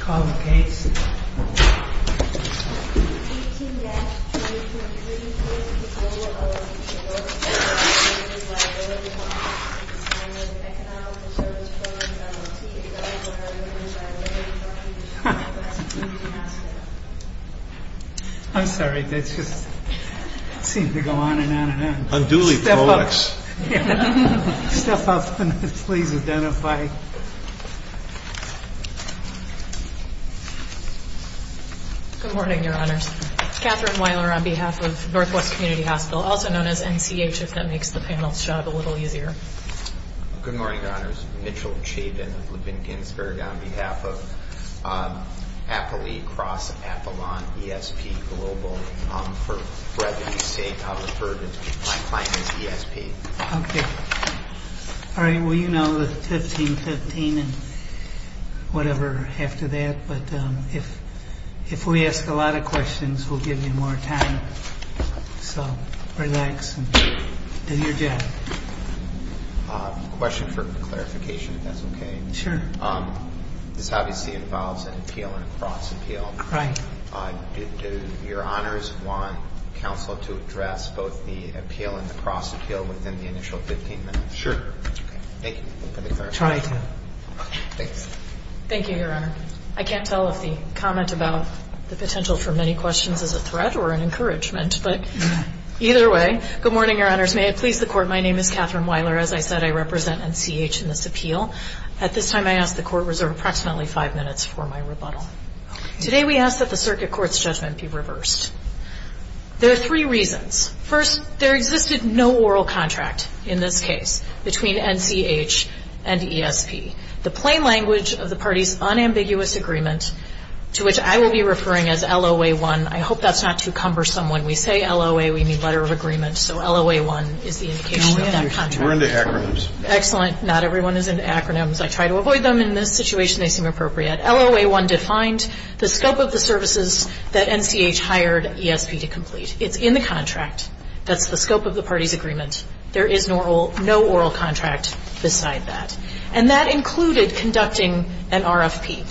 Call the case 18-23.3. Global LLC I'm sorry, that just seemed to go on and on and on Unduly prolix Step up and please identify Good morning, your honors. Kathryn Weiler on behalf of Northwest Community Hospital, also known as NCH if that makes the panel's job a little easier Good morning, your honors. Mitchell Chabin of Levin Ginsberg on behalf of Appalachia Cross Appalachian ESP Global For brevity's sake, I'll refer to my client as ESP Alright, well you know the 15-15 and whatever after that But if we ask a lot of questions, we'll give you more time So relax and do your job Question for clarification, if that's okay Sure This obviously involves an appeal and a cross appeal Right Do your honors want counsel to address both the appeal and the cross appeal within the initial 15 minutes? Sure Okay, thank you for the clarification I'll try to Okay, thanks Thank you, your honor I can't tell if the comment about the potential for many questions is a threat or an encouragement, but either way Good morning, your honors. May it please the court, my name is Kathryn Weiler As I said, I represent NCH in this appeal At this time, I ask the court reserve approximately five minutes for my rebuttal Today we ask that the circuit court's judgment be reversed There are three reasons First, there existed no oral contract in this case between NCH and ESP The plain language of the party's unambiguous agreement, to which I will be referring as LOA-1 I hope that's not too cumbersome when we say LOA, we mean letter of agreement So LOA-1 is the indication of that contract We're into acronyms Excellent, not everyone is into acronyms I try to avoid them in this situation, they seem appropriate LOA-1 defined the scope of the services that NCH hired ESP to complete It's in the contract, that's the scope of the party's agreement There is no oral contract beside that And that included conducting an RFP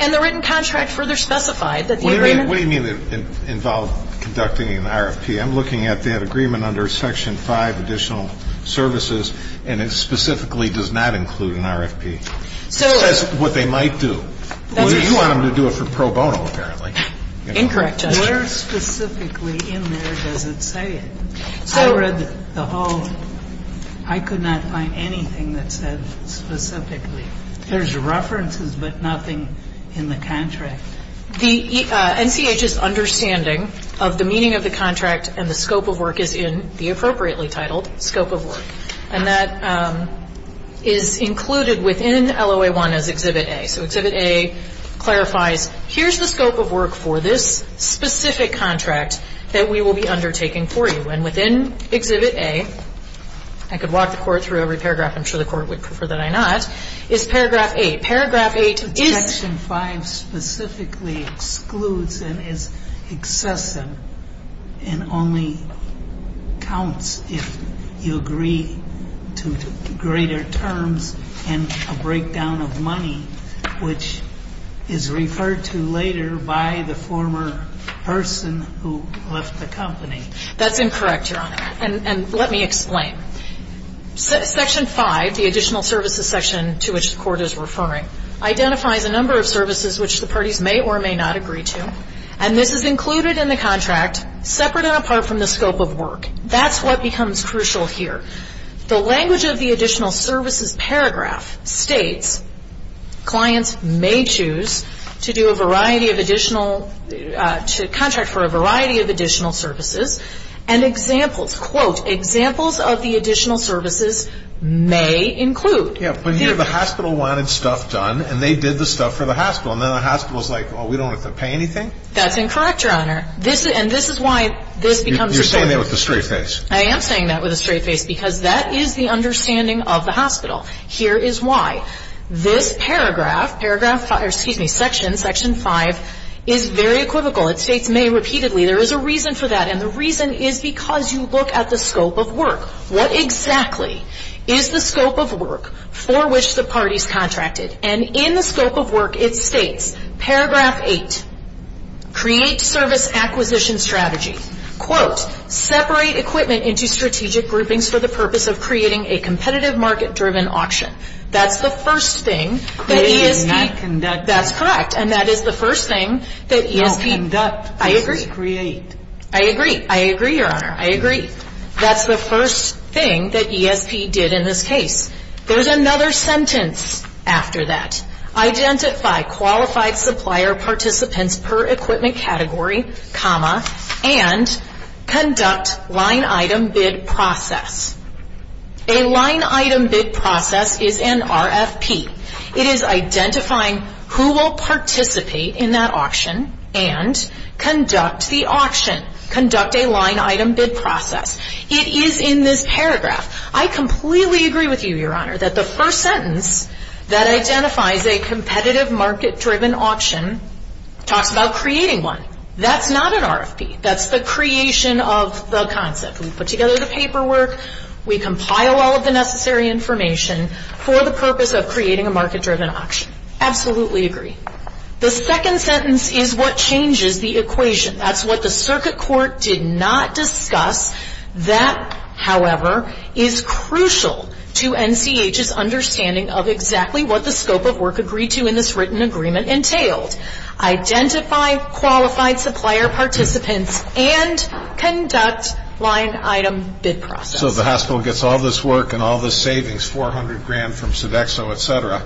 And the written contract further specified that the agreement What do you mean it involved conducting an RFP? I'm looking at that agreement under section 5, additional services And it specifically does not include an RFP That's what they might do You want them to do it for pro bono apparently Incorrect, Justice Where specifically in there does it say it? I read the whole, I could not find anything that said specifically There's references but nothing in the contract The NCH's understanding of the meaning of the contract And the scope of work is in the appropriately titled scope of work And that is included within LOA-1 as Exhibit A So Exhibit A clarifies, here's the scope of work for this specific contract That we will be undertaking for you And within Exhibit A, I could walk the Court through every paragraph I'm sure the Court would prefer that I not Is Paragraph 8, Paragraph 8 is Section 5 specifically excludes and is excessive And only counts if you agree to greater terms And a breakdown of money Which is referred to later by the former person who left the company That's incorrect, Your Honor And let me explain Section 5, the additional services section to which the Court is referring Identifies a number of services which the parties may or may not agree to And this is included in the contract Separate and apart from the scope of work That's what becomes crucial here The language of the additional services paragraph states Clients may choose to do a variety of additional To contract for a variety of additional services And examples, quote, examples of the additional services may include Yeah, but here the hospital wanted stuff done And they did the stuff for the hospital And then the hospital's like, well, we don't have to pay anything? That's incorrect, Your Honor And this is why this becomes a state You're saying that with a straight face I am saying that with a straight face Because that is the understanding of the hospital Here is why This paragraph, paragraph 5, or excuse me, Section, Section 5 Is very equivocal, it states may repeatedly There is a reason for that And the reason is because you look at the scope of work What exactly is the scope of work for which the parties contracted? And in the scope of work, it states, paragraph 8 Create service acquisition strategy Quote, separate equipment into strategic groupings For the purpose of creating a competitive market-driven auction That's the first thing that ESP That's correct, and that is the first thing that ESP I agree, I agree, I agree, Your Honor, I agree That's the first thing that ESP did in this case There is another sentence after that Identify qualified supplier participants per equipment category, comma And conduct line item bid process A line item bid process is an RFP It is identifying who will participate in that auction And conduct the auction, conduct a line item bid process It is in this paragraph I completely agree with you, Your Honor That the first sentence that identifies a competitive market-driven auction Talks about creating one That's not an RFP That's the creation of the concept We put together the paperwork We compile all of the necessary information For the purpose of creating a market-driven auction Absolutely agree The second sentence is what changes the equation That's what the circuit court did not discuss That, however, is crucial to NCH's understanding Of exactly what the scope of work agreed to in this written agreement entailed Identify qualified supplier participants And conduct line item bid process So the hospital gets all this work and all this savings 400 grand from Sodexo, etc.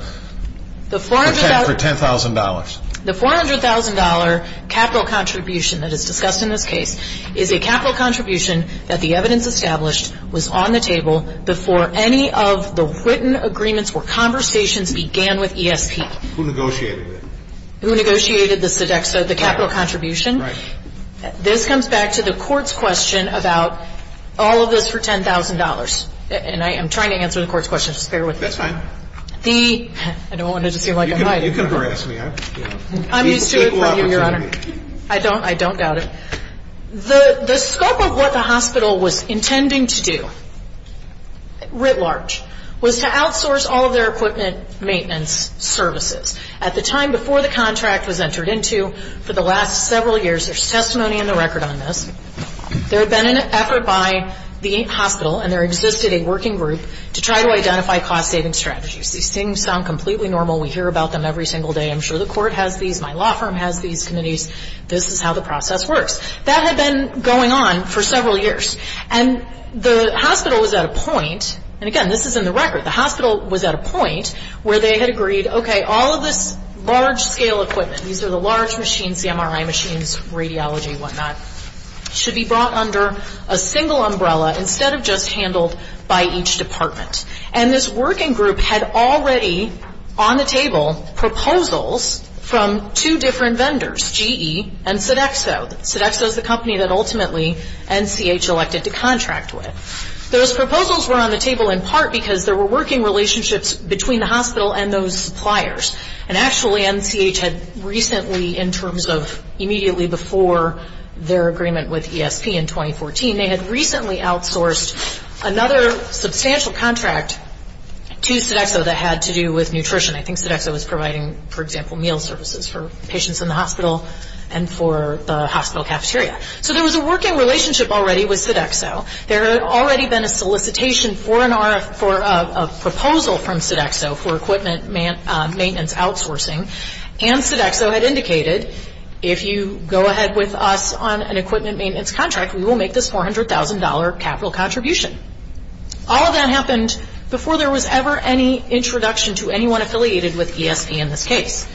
For $10,000 The $400,000 capital contribution that is discussed in this case Is a capital contribution that the evidence established Was on the table before any of the written agreements Or conversations began with ESP Who negotiated it? Who negotiated the Sodexo, the capital contribution? Right This comes back to the court's question about All of this for $10,000 And I am trying to answer the court's question Just bear with me That's fine I don't want it to seem like I'm hiding You can harass me I'm used to it from you, Your Honor I don't doubt it The scope of what the hospital was intending to do Writ large Was to outsource all of their equipment maintenance services At the time before the contract was entered into For the last several years There's testimony in the record on this There had been an effort by the hospital And there existed a working group To try to identify cost-saving strategies These things sound completely normal We hear about them every single day I'm sure the court has these My law firm has these committees This is how the process works That had been going on for several years And the hospital was at a point And again, this is in the record The hospital was at a point Where they had agreed Okay, all of this large-scale equipment These are the large machines The MRI machines, radiology, whatnot Should be brought under a single umbrella Instead of just handled by each department And this working group had already on the table Proposals from two different vendors GE and Sodexo Sodexo is the company that ultimately NCH elected to contract with Those proposals were on the table in part Because there were working relationships Between the hospital and those suppliers And actually NCH had recently In terms of immediately before Their agreement with ESP in 2014 They had recently outsourced Another substantial contract To Sodexo that had to do with nutrition I think Sodexo was providing For example, meal services For patients in the hospital And for the hospital cafeteria So there was a working relationship already With Sodexo There had already been a solicitation For a proposal from Sodexo For equipment maintenance outsourcing And Sodexo had indicated If you go ahead with us On an equipment maintenance contract We will make this $400,000 capital contribution All of that happened Before there was ever any introduction To anyone affiliated with ESP in this case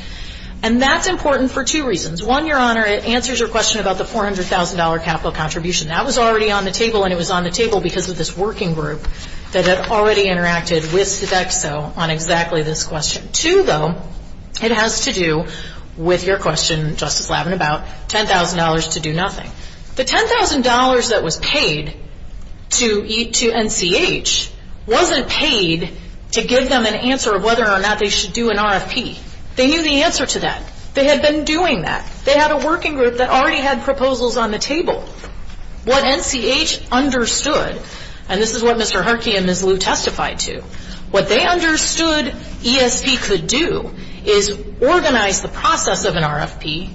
And that's important for two reasons One, Your Honor It answers your question about The $400,000 capital contribution That was already on the table And it was on the table Because of this working group That had already interacted with Sodexo On exactly this question Two, though It has to do with your question, Justice Lavenabout $10,000 to do nothing The $10,000 that was paid to NCH Wasn't paid to give them an answer Of whether or not they should do an RFP They knew the answer to that They had been doing that They had a working group That already had proposals on the table What NCH understood And this is what Mr. Harkey and Ms. Liu testified to What they understood ESP could do Is organize the process of an RFP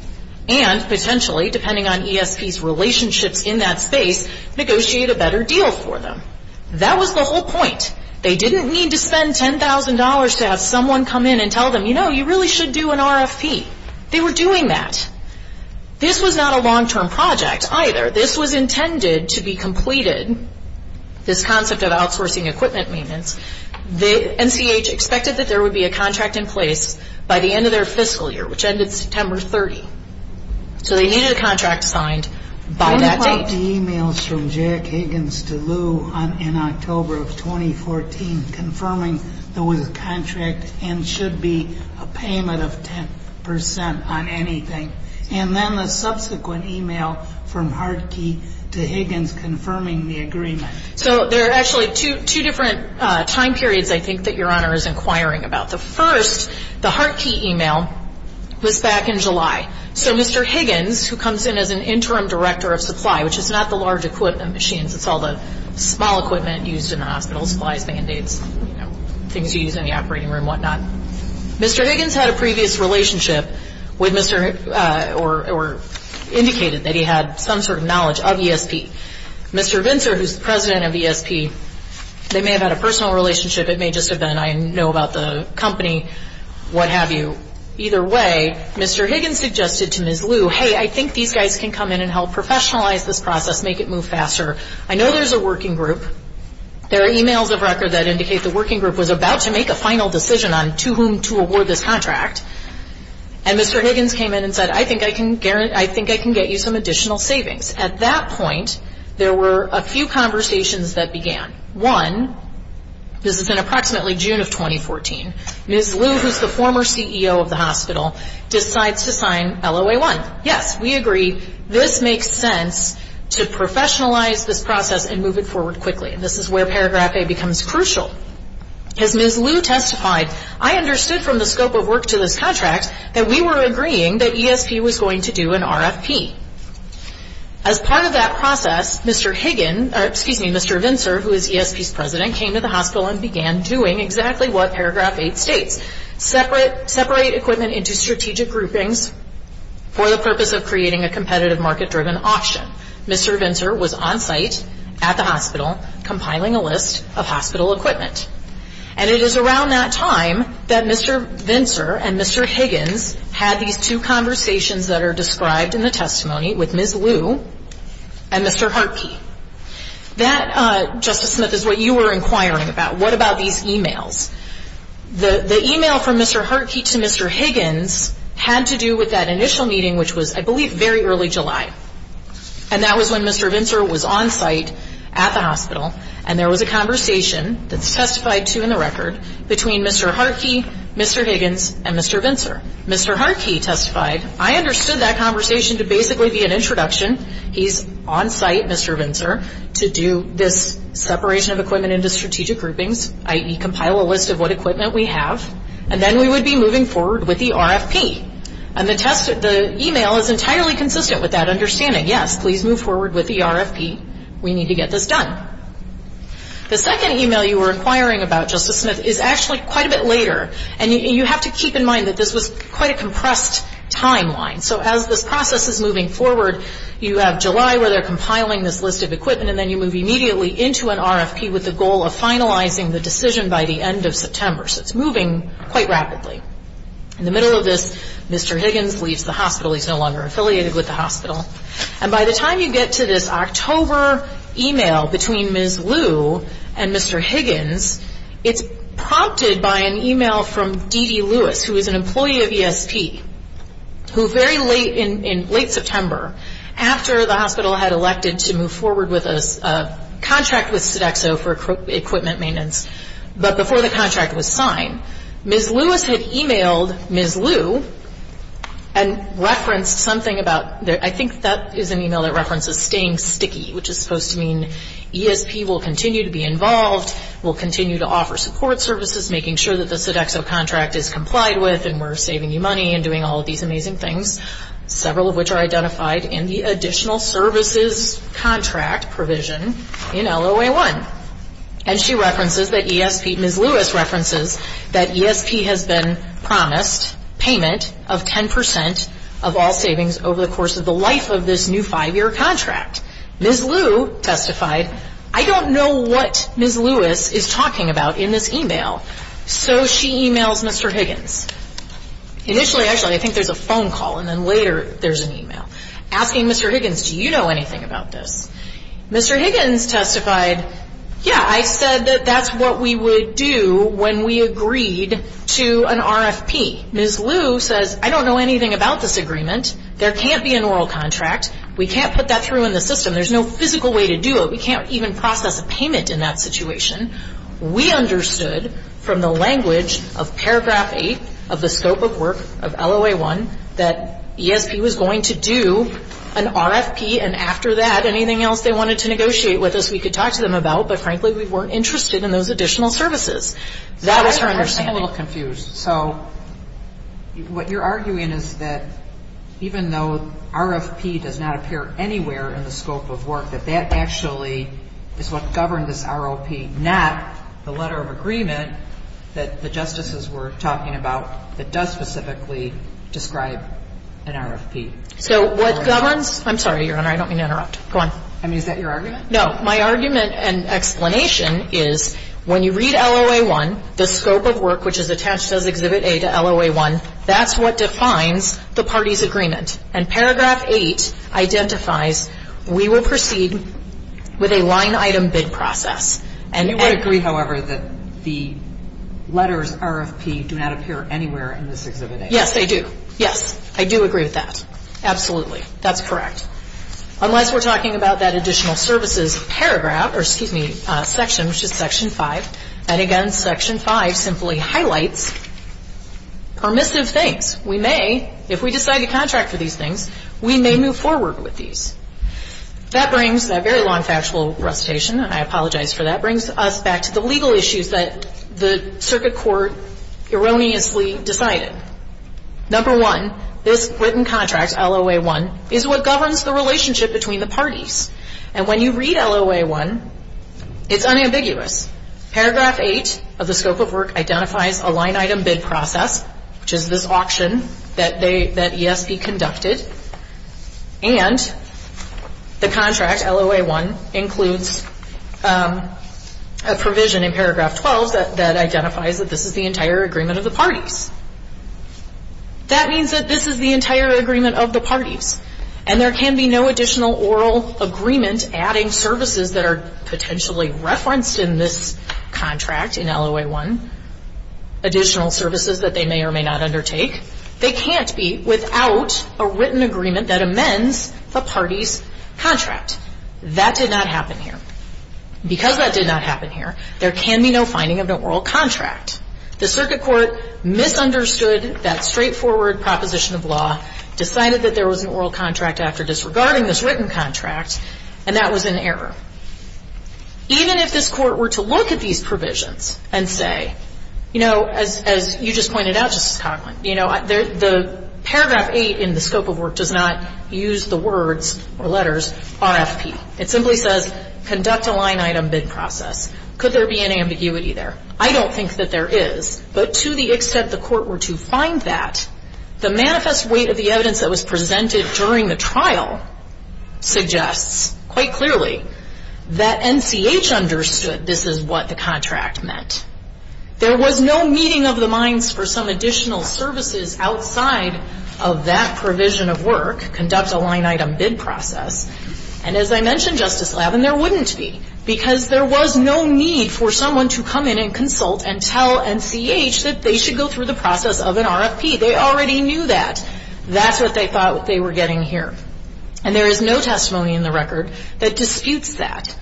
And potentially, depending on ESP's relationships In that space Negotiate a better deal for them That was the whole point They didn't need to spend $10,000 To have someone come in and tell them You know, you really should do an RFP They were doing that This was not a long-term project either This was intended to be completed This concept of outsourcing equipment maintenance NCH expected that there would be a contract in place By the end of their fiscal year Which ended September 30 So they needed a contract signed by that date When were the emails from Jack Higgins to Liu In October of 2014 Confirming there was a contract And should be a payment of 10% on anything And then the subsequent email from Harkey to Higgins Confirming the agreement So there are actually two different time periods I think that Your Honor is inquiring about The first, the Harkey email Was back in July So Mr. Higgins Who comes in as an interim director of supply Which is not the large equipment machines It's all the small equipment used in the hospital Supplies, mandates Things you use in the operating room and whatnot Mr. Higgins had a previous relationship With Mr. Higgins Or indicated that he had some sort of knowledge of ESP Mr. Vintzer, who is the president of ESP They may have had a personal relationship It may just have been I know about the company What have you Either way Mr. Higgins suggested to Ms. Liu Hey, I think these guys can come in and help Professionalize this process Make it move faster I know there's a working group There are emails of record that indicate the working group Was about to make a final decision on To whom to award this contract And Mr. Higgins came in and said I think I can get you some additional savings At that point There were a few conversations that began One This is in approximately June of 2014 Ms. Liu, who is the former CEO of the hospital Decides to sign LOA-1 Yes, we agree This makes sense To professionalize this process And move it forward quickly This is where paragraph A becomes crucial As Ms. Liu testified I understood from the scope of work to this contract That we were agreeing that ESP was going to do an RFP As part of that process Mr. Higgins Excuse me, Mr. Vincer, who is ESP's president Came to the hospital and began doing Exactly what paragraph A states Separate equipment into strategic groupings For the purpose of creating a competitive market-driven auction Mr. Vincer was on site at the hospital Compiling a list of hospital equipment And it is around that time That Mr. Vincer and Mr. Higgins Had these two conversations That are described in the testimony With Ms. Liu and Mr. Hartke That, Justice Smith, is what you were inquiring about What about these emails? The email from Mr. Hartke to Mr. Higgins Had to do with that initial meeting Which was, I believe, very early July And that was when Mr. Vincer was on site At the hospital And there was a conversation That's testified to in the record Between Mr. Hartke, Mr. Higgins, and Mr. Vincer Mr. Hartke testified I understood that conversation to basically be an introduction He's on site, Mr. Vincer To do this separation of equipment into strategic groupings I.e. compile a list of what equipment we have And then we would be moving forward with the RFP And the email is entirely consistent with that understanding Yes, please move forward with the RFP We need to get this done The second email you were inquiring about, Justice Smith Is actually quite a bit later And you have to keep in mind That this was quite a compressed timeline So as this process is moving forward You have July where they're compiling this list of equipment And then you move immediately into an RFP With the goal of finalizing the decision by the end of September So it's moving quite rapidly In the middle of this, Mr. Higgins leaves the hospital He's no longer affiliated with the hospital And by the time you get to this October email Between Ms. Liu and Mr. Higgins It's prompted by an email from D.D. Lewis Who is an employee of ESP Who very late in late September After the hospital had elected to move forward With a contract with Sodexo for equipment maintenance But before the contract was signed Ms. Lewis had emailed Ms. Liu And referenced something about I think that is an email that references staying sticky Which is supposed to mean ESP will continue to be involved Will continue to offer support services Making sure that the Sodexo contract is complied with And we're saving you money And doing all of these amazing things Several of which are identified In the additional services contract provision in LOA1 And she references that ESP Ms. Lewis references that ESP has been promised Payment of 10% of all savings Over the course of the life of this new five year contract Ms. Liu testified I don't know what Ms. Lewis is talking about in this email So she emails Mr. Higgins Initially actually I think there's a phone call And then later there's an email Asking Mr. Higgins Do you know anything about this? Mr. Higgins testified Yeah I said that that's what we would do When we agreed to an RFP Ms. Liu says I don't know anything about this agreement There can't be an oral contract We can't put that through in the system There's no physical way to do it We can't even process a payment in that situation We understood from the language of paragraph 8 Of the scope of work of LOA1 That ESP was going to do an RFP And after that anything else they wanted to negotiate with us We could talk to them about But frankly we weren't interested in those additional services That was her understanding I'm a little confused So what you're arguing is that Even though RFP does not appear anywhere in the scope of work That that actually is what governed this ROP Not the letter of agreement That the justices were talking about That does specifically describe an RFP So what governs I'm sorry your honor I don't mean to interrupt Go on I mean is that your argument? No my argument and explanation is When you read LOA1 The scope of work which is attached as Exhibit A to LOA1 That's what defines the parties agreement And paragraph 8 identifies We will proceed with a line item bid process You would agree however that the letters RFP Do not appear anywhere in this Exhibit A Yes they do Yes I do agree with that Absolutely that's correct Unless we're talking about that additional services paragraph Or excuse me section 5 And again section 5 simply highlights Permissive things We may if we decide to contract for these things We may move forward with these That brings that very long factual recitation I apologize for that Brings us back to the legal issues that The circuit court erroneously decided Number one This written contract LOA1 Is what governs the relationship between the parties And when you read LOA1 It's unambiguous Paragraph 8 of the scope of work identifies A line item bid process Which is this auction that ESB conducted And The contract LOA1 Includes A provision in paragraph 12 That identifies that this is the entire agreement of the parties That means that this is the entire agreement of the parties And there can be no additional oral agreement Adding services that are Potentially referenced in this contract in LOA1 Additional services that they may or may not undertake They can't be without A written agreement that amends The parties contract That did not happen here Because that did not happen here There can be no finding of an oral contract The circuit court misunderstood That straightforward proposition of law Decided that there was an oral contract After disregarding this written contract And that was an error Even if this court were to look at these provisions And say You know, as you just pointed out, Justice Coghlan You know, the paragraph 8 in the scope of work Does not use the words or letters RFP It simply says conduct a line item bid process Could there be an ambiguity there? I don't think that there is But to the extent the court were to find that The manifest weight of the evidence that was presented During the trial Suggests quite clearly That NCH understood this is what the contract meant There was no meeting of the minds For some additional services Outside of that provision of work Conduct a line item bid process And as I mentioned, Justice Lavin, there wouldn't be Because there was no need for someone to come in And consult and tell NCH That they should go through the process of an RFP They already knew that That's what they thought they were getting here And there is no testimony in the record That disputes that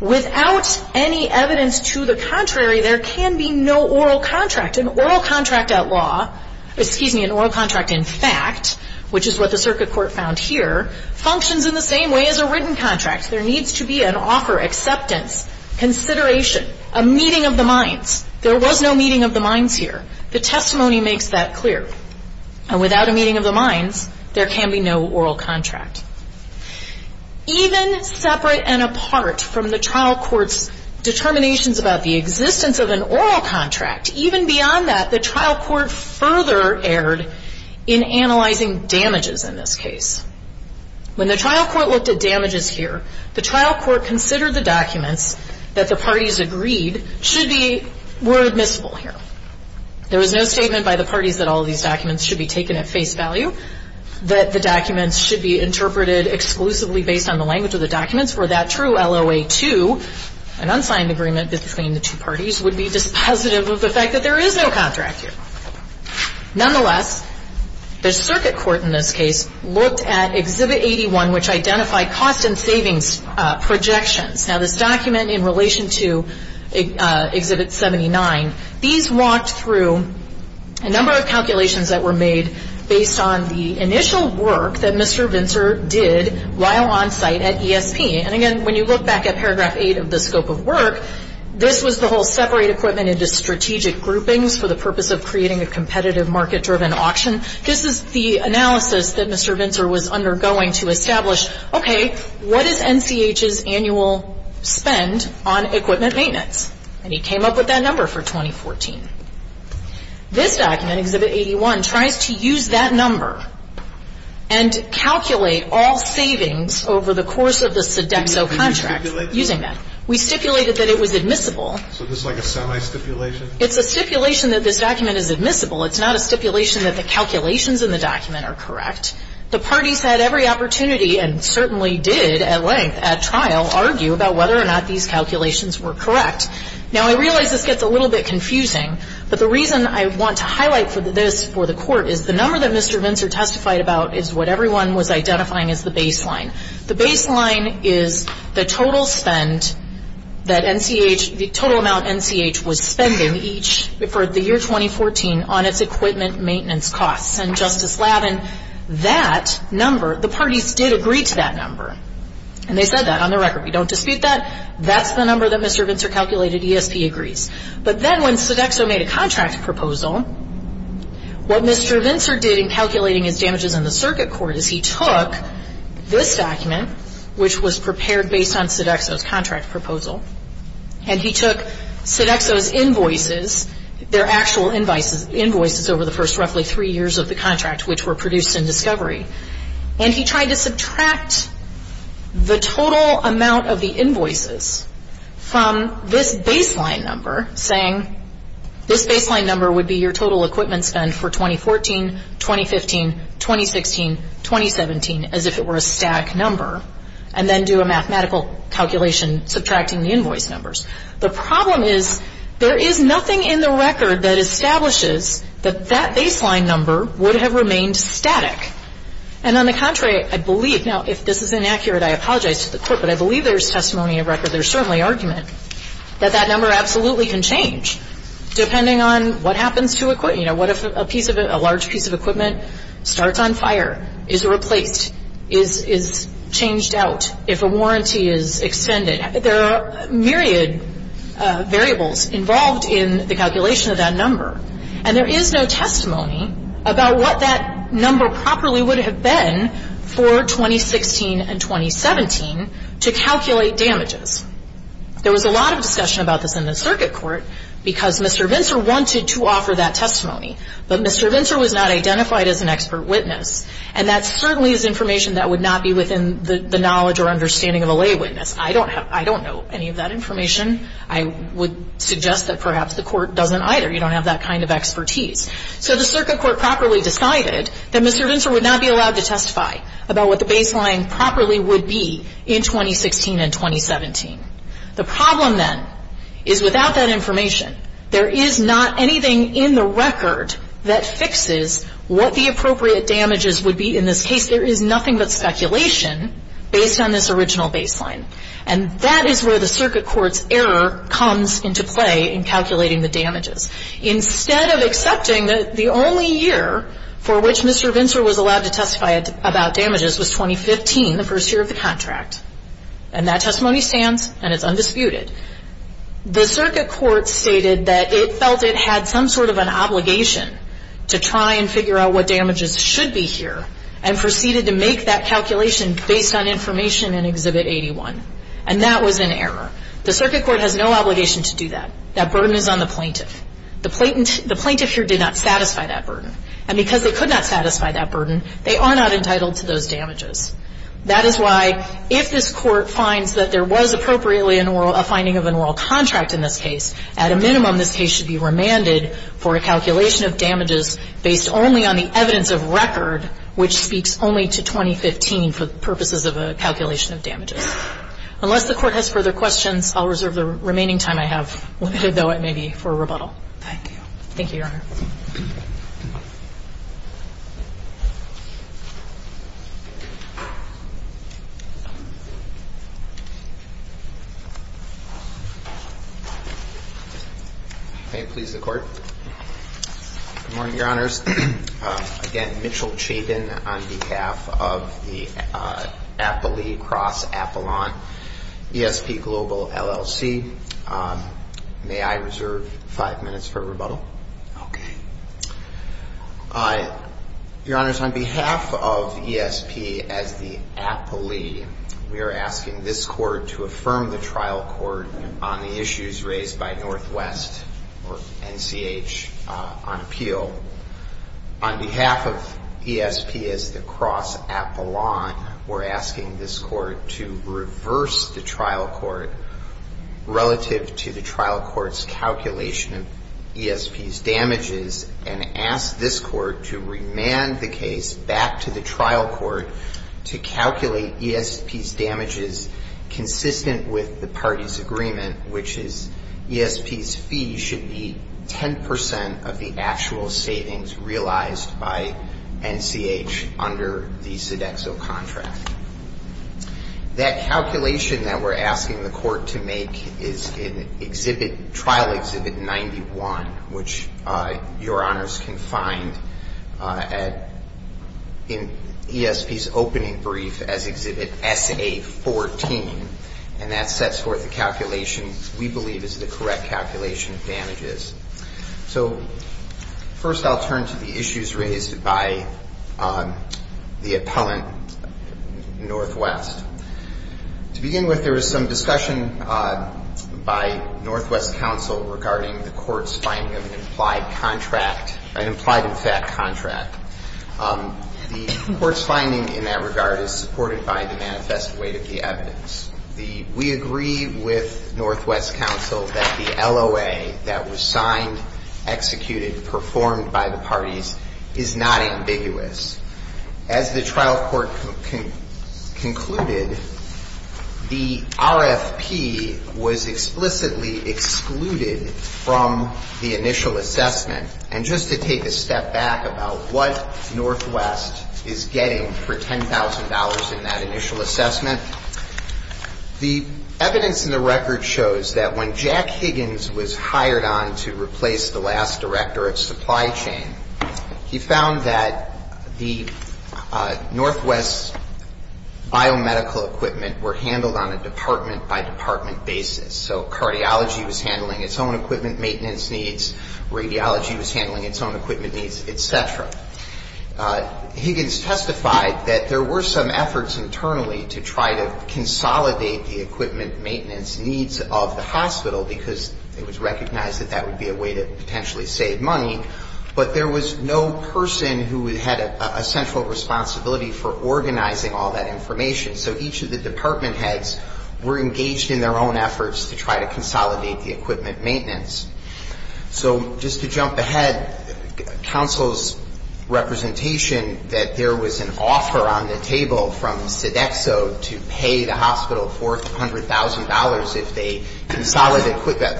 Without any evidence to the contrary There can be no oral contract An oral contract at law Excuse me, an oral contract in fact Which is what the circuit court found here Functions in the same way as a written contract There needs to be an offer, acceptance, consideration A meeting of the minds There was no meeting of the minds here The testimony makes that clear And without a meeting of the minds There can be no oral contract Even separate and apart from the trial court's Determinations about the existence of an oral contract Even beyond that, the trial court further erred In analyzing damages in this case When the trial court looked at damages here The trial court considered the documents That the parties agreed Should be, were admissible here There was no statement by the parties That all of these documents should be taken at face value That the documents should be interpreted Exclusively based on the language of the documents For that true LOA2 An unsigned agreement between the two parties Which would be dispositive of the fact That there is no contract here Nonetheless, the circuit court in this case Looked at Exhibit 81 Which identified cost and savings projections Now this document in relation to Exhibit 79 These walked through A number of calculations that were made Based on the initial work That Mr. Vintzer did While on site at ESP And again, when you look back at Paragraph 8 Of the scope of work This was the whole separate equipment Into strategic groupings For the purpose of creating A competitive market-driven auction This is the analysis that Mr. Vintzer Was undergoing to establish Okay, what is NCH's annual spend On equipment maintenance And he came up with that number for 2014 This document, Exhibit 81 Tries to use that number And calculate all savings Over the course of the Sodexo contract Using that We stipulated that it was admissible So this is like a semi-stipulation It's a stipulation that this document is admissible It's not a stipulation that the calculations In the document are correct The parties had every opportunity And certainly did at length At trial Argue about whether or not These calculations were correct Now I realize this gets a little bit confusing But the reason I want to highlight This for the court Is the number that Mr. Vintzer testified about Is what everyone was identifying as the baseline The baseline is the total spend That NCH The total amount NCH was spending Each For the year 2014 On its equipment maintenance costs And Justice Lavin That number The parties did agree to that number And they said that On the record We don't dispute that That's the number that Mr. Vintzer calculated ESP agrees But then when Sodexo made a contract proposal What Mr. Vintzer did In calculating his damages in the circuit court Is he took This document Which was prepared based on Sodexo's contract proposal And he took Sodexo's invoices Their actual invoices Over the first roughly three years of the contract Which were produced in discovery And he tried to subtract The total amount of the invoices From this baseline number Saying This baseline number would be your total equipment spend For 2014 2015 2016 2017 As if it were a static number And then do a mathematical calculation Subtracting the invoice numbers The problem is There is nothing in the record That establishes That that baseline number Would have remained static And on the contrary I believe Now if this is inaccurate I apologize to the court But I believe there is testimony of record There is certainly argument That that number absolutely can change Depending on what happens to equipment You know What if a piece of A large piece of equipment Starts on fire Is replaced Is changed out If a warranty is extended There are myriad variables Involved in the calculation of that number And there is no testimony About what that number properly would have been For 2016 and 2017 To calculate damages There was a lot of discussion about this in the circuit court Because Mr. Vintzer wanted to offer that testimony But Mr. Vintzer was not identified as an expert witness And that certainly is information That would not be within the knowledge Or understanding of a lay witness I don't know any of that information I would suggest that perhaps the court doesn't either You don't have that kind of expertise So the circuit court properly decided That Mr. Vintzer would not be allowed to testify About what the baseline properly would be In 2016 and 2017 The problem then Is without that information There is not anything in the record That fixes what the appropriate damages would be In this case there is nothing but speculation Based on this original baseline And that is where the circuit court's error Comes into play in calculating the damages Instead of accepting that the only year For which Mr. Vintzer was allowed to testify About damages was 2015 The first year of the contract And that testimony stands And it's undisputed The circuit court stated that It felt it had some sort of an obligation To try and figure out what damages should be here And proceeded to make that calculation Based on information in Exhibit 81 And that was an error The circuit court has no obligation to do that That burden is on the plaintiff The plaintiff here did not satisfy that burden And because they could not satisfy that burden They are not entitled to those damages That is why if this court finds That there was appropriately a finding of an oral contract In this case At a minimum this case should be remanded For a calculation of damages Based only on the evidence of record Which speaks only to 2015 For purposes of a calculation of damages Unless the court has further questions I'll reserve the remaining time I have Though it may be for rebuttal Thank you Thank you, Your Honor May it please the Court Good morning, Your Honors Again, Mitchell Chabin On behalf of the Apolee Cross-Apollon ESP Global, LLC May I reserve five minutes for rebuttal? Okay Your Honors, on behalf of ESP As the Apolee We are asking this Court To affirm the trial court On the issues raised by Northwest Or NCH On appeal On behalf of ESP As the Cross-Apollon We are asking this Court To reverse the trial court Relative to the trial court's calculation Of ESP's damages And ask this Court to remand the case Back to the trial court To calculate ESP's damages Consistent with the party's agreement Which is ESP's fee should be Ten percent of the actual savings Realized by NCH Under the Sodexo contract That calculation that we're asking the Court to make Is in Exhibit Trial Exhibit 91 Which Your Honors can find At In ESP's opening brief As Exhibit SA14 And that sets forth the calculation We believe is the correct calculation of damages So First I'll turn to the issues raised by The appellant Northwest To begin with there was some discussion By Northwest Council Regarding the Court's finding of an implied contract An implied in fact contract The Court's finding in that regard Is supported by the manifest weight of the evidence We agree with Northwest Council That the LOA that was signed Executed, performed by the parties Is not ambiguous As the trial court concluded The RFP Was explicitly excluded From the initial assessment And just to take a step back About what Northwest Is getting for $10,000 in that initial assessment The evidence in the record shows That when Jack Higgins was hired on To replace the last director of supply chain He found that the Northwest's biomedical equipment Were handled on a department by department basis So cardiology was handling its own equipment maintenance needs Radiology was handling its own equipment needs, etc. Higgins testified that there were some efforts internally To try to consolidate the equipment maintenance needs Of the hospital Because it was recognized that that would be a way to Potentially save money But there was no person who had a central responsibility For organizing all that information So each of the department heads were engaged in their own efforts To try to consolidate the equipment maintenance So just to jump ahead Counsel's representation That there was an offer on the table from Sodexo To pay the hospital $400,000 If they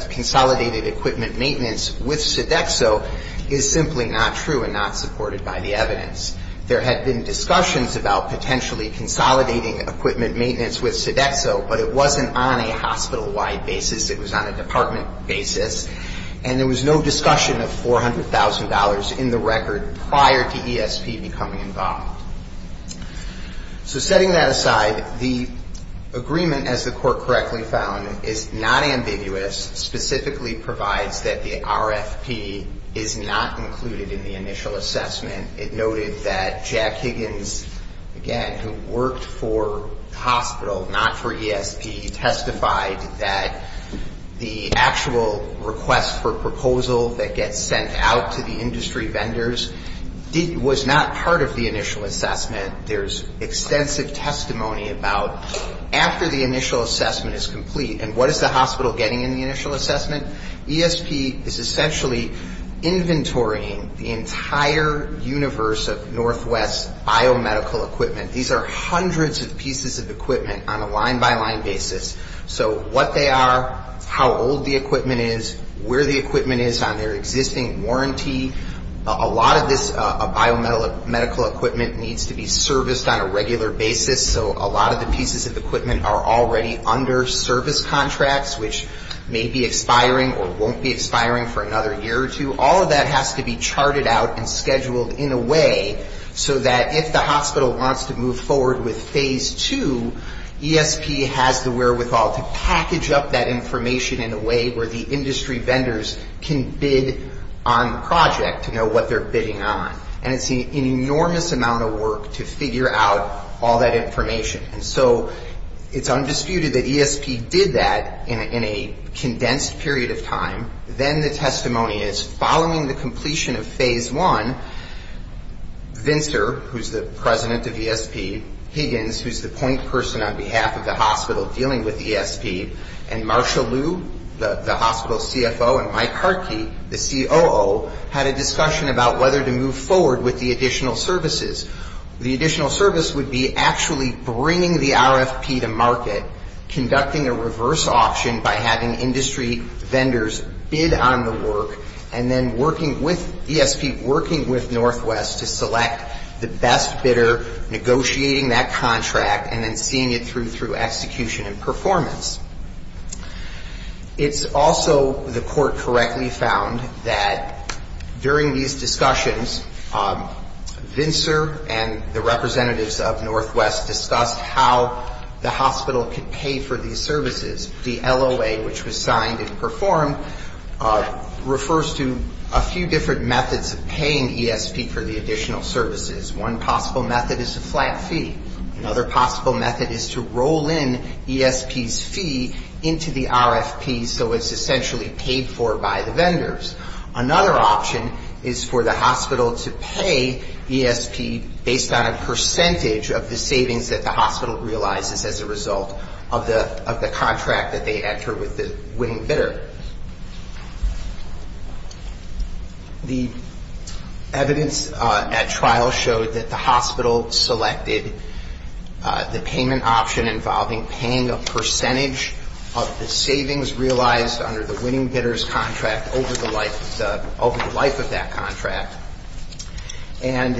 consolidated equipment maintenance With Sodexo Is simply not true and not supported by the evidence There had been discussions about potentially consolidating Equipment maintenance with Sodexo But it wasn't on a hospital-wide basis It was on a department basis And there was no discussion of $400,000 in the record Prior to ESP becoming involved So setting that aside The agreement as the court correctly found Is not ambiguous Specifically provides that the RFP Is not included in the initial assessment It noted that Jack Higgins Again, who worked for the hospital Not for ESP Testified that the actual request for proposal That gets sent out to the industry vendors Was not part of the initial assessment There's extensive testimony about After the initial assessment is complete And what is the hospital getting in the initial assessment ESP is essentially inventorying The entire universe of Northwest biomedical equipment These are hundreds of pieces of equipment On a line-by-line basis What they are, how old the equipment is Where the equipment is on their existing warranty A lot of this biomedical equipment Needs to be serviced on a regular basis So a lot of the pieces of equipment are already under service contracts Which may be expiring or won't be expiring For another year or two All of that has to be charted out and scheduled in a way So that if the hospital wants to move forward with Phase 2 ESP has the wherewithal to package up that information In a way where the industry vendors Can bid on the project To know what they're bidding on And it's an enormous amount of work to figure out all that information And so it's undisputed that ESP did that In a condensed period of time Then the testimony is, following the completion of Phase 1 Vinter, who's the president of ESP Higgins, who's the point person on behalf of the hospital Dealing with ESP And Marsha Liu, the hospital CFO And Mike Hartke, the COO Had a discussion about whether to move forward with the additional services The additional service would be actually bringing the RFP to market Conducting a reverse auction by having industry vendors Bid on the work And then working with ESP, working with Northwest To select the best bidder Negotiating that contract and then seeing it through Through execution and performance It's also, the court correctly found That during these discussions Vinter and the representatives of Northwest Discussed how the hospital could pay for these services The LOA, which was signed and performed Refers to a few different methods Of paying ESP for the additional services One possible method is a flat fee Another possible method is to roll in ESP's fee Into the RFP so it's essentially Paid for by the vendors Another option is for the hospital to pay ESP Based on a percentage of the savings that the hospital realizes As a result of the contract that they enter With the winning bidder The evidence at trial showed that the hospital Selected the payment option involving Paying a percentage of the savings realized Under the winning bidder's contract Over the life of that contract And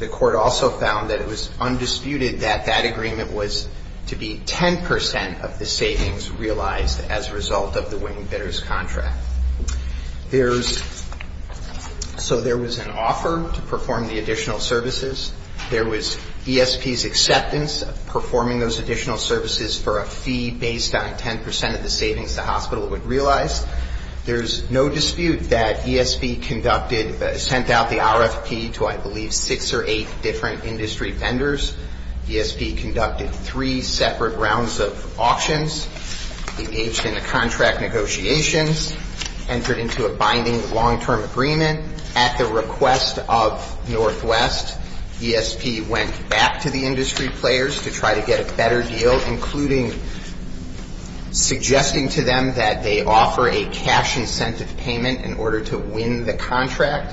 the court also found that it was Undisputed that that agreement was to be 10% of the savings realized as a result Of the winning bidder's contract So there was an offer to perform The additional services There was ESP's acceptance of performing those additional services For a fee based on 10% of the savings the hospital Would realize There's no dispute that ESP Sent out the RFP to I believe six or eight Different industry vendors ESP conducted three separate rounds of auctions Engaged in the contract negotiations Entered into a binding long-term agreement At the request of Northwest ESP went back to the industry players To try to get a better deal Suggesting to them that they offer a cash incentive Payment in order to win the contract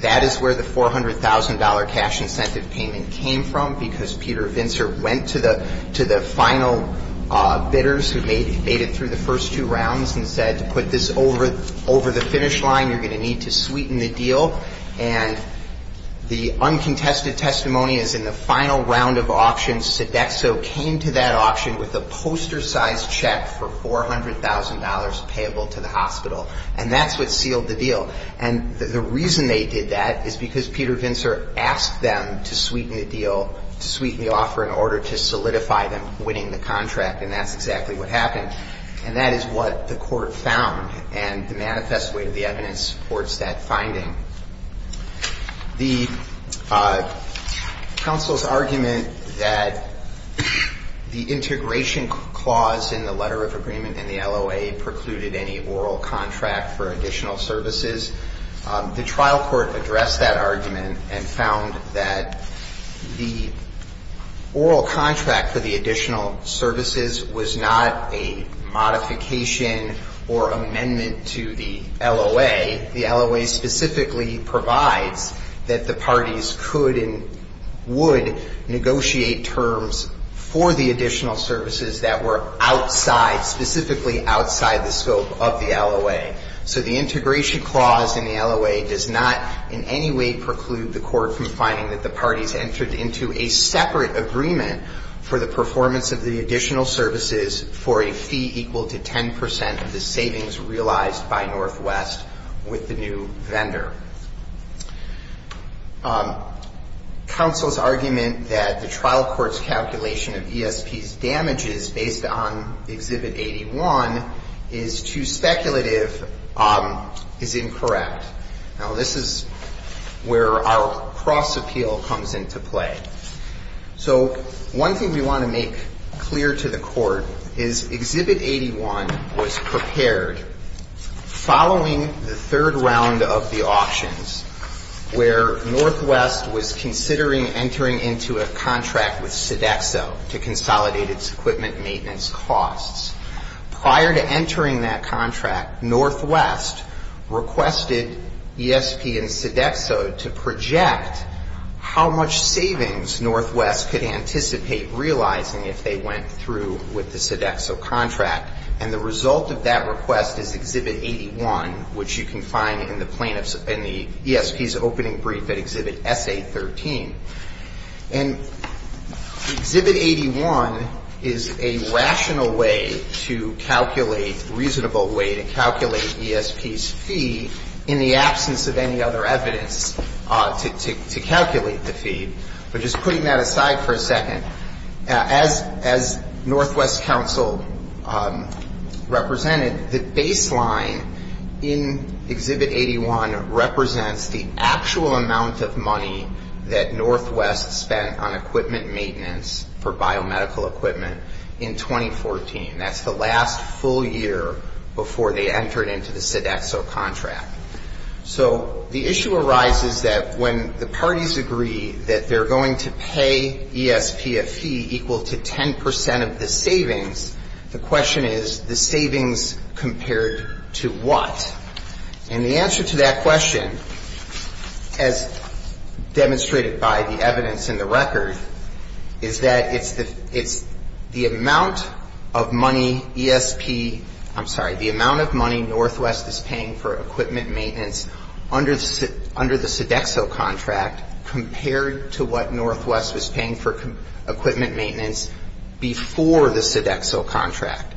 That is where the $400,000 cash incentive payment Came from because Peter Went to the final bidders Who made it through the first two rounds And said to put this over the finish line You're going to need to sweeten the deal And the uncontested testimony is in the final round of auctions And the Sodexo came to that auction with a poster-sized check For $400,000 payable to the hospital And that's what sealed the deal And the reason they did that is because Peter Asked them to sweeten the deal To sweeten the offer in order to solidify them Winning the contract and that's exactly what happened And that is what the court found And the manifest weight of the evidence supports that finding The counsel's argument That the integration clause In the letter of agreement in the LOA Precluded any oral contract for additional services The trial court addressed that argument And found that the Oral contract for the additional services Was not a modification Or amendment to the LOA The LOA specifically provides that the parties Could and would negotiate terms For the additional services that were Outside, specifically outside the scope of the LOA So the integration clause in the LOA Does not in any way preclude the court From finding that the parties entered into a separate agreement For the performance of the additional services For a fee equal to 10% of the savings realized By Northwest with the new vendor Counsel's argument That the trial court's calculation of ESP's damages Based on Exhibit 81 Is too speculative Is incorrect Now this is where our cross appeal comes into play So one thing we want to make clear to the court Is Exhibit 81 was prepared Following the third round of the auctions Where Northwest was considering Entering into a contract with Sodexo To consolidate its equipment maintenance costs Prior to entering that contract Northwest requested ESP and Sodexo To project how much savings Northwest could anticipate realizing If they went through with the Sodexo contract And the result of that request is Exhibit 81 Which you can find in the ESP's opening brief At Exhibit SA13 And Exhibit 81 Is a rational way to calculate A reasonable way to calculate ESP's fee In the absence of any other evidence To calculate the fee But just putting that aside for a second As Northwest counsel represented The baseline in Exhibit 81 Represents the actual amount of money That Northwest spent on equipment maintenance For biomedical equipment in 2014 That's the last full year Before they entered into the Sodexo contract So the issue arises that When the parties agree That they're going to pay ESP a fee Equal to 10% of the savings The question is the savings compared to what And the answer to that question As demonstrated by the evidence In the record Is that it's the amount of money ESP, I'm sorry, the amount of money Northwest is paying for equipment maintenance Under the Sodexo contract Compared to what Northwest was paying for equipment maintenance Before the Sodexo contract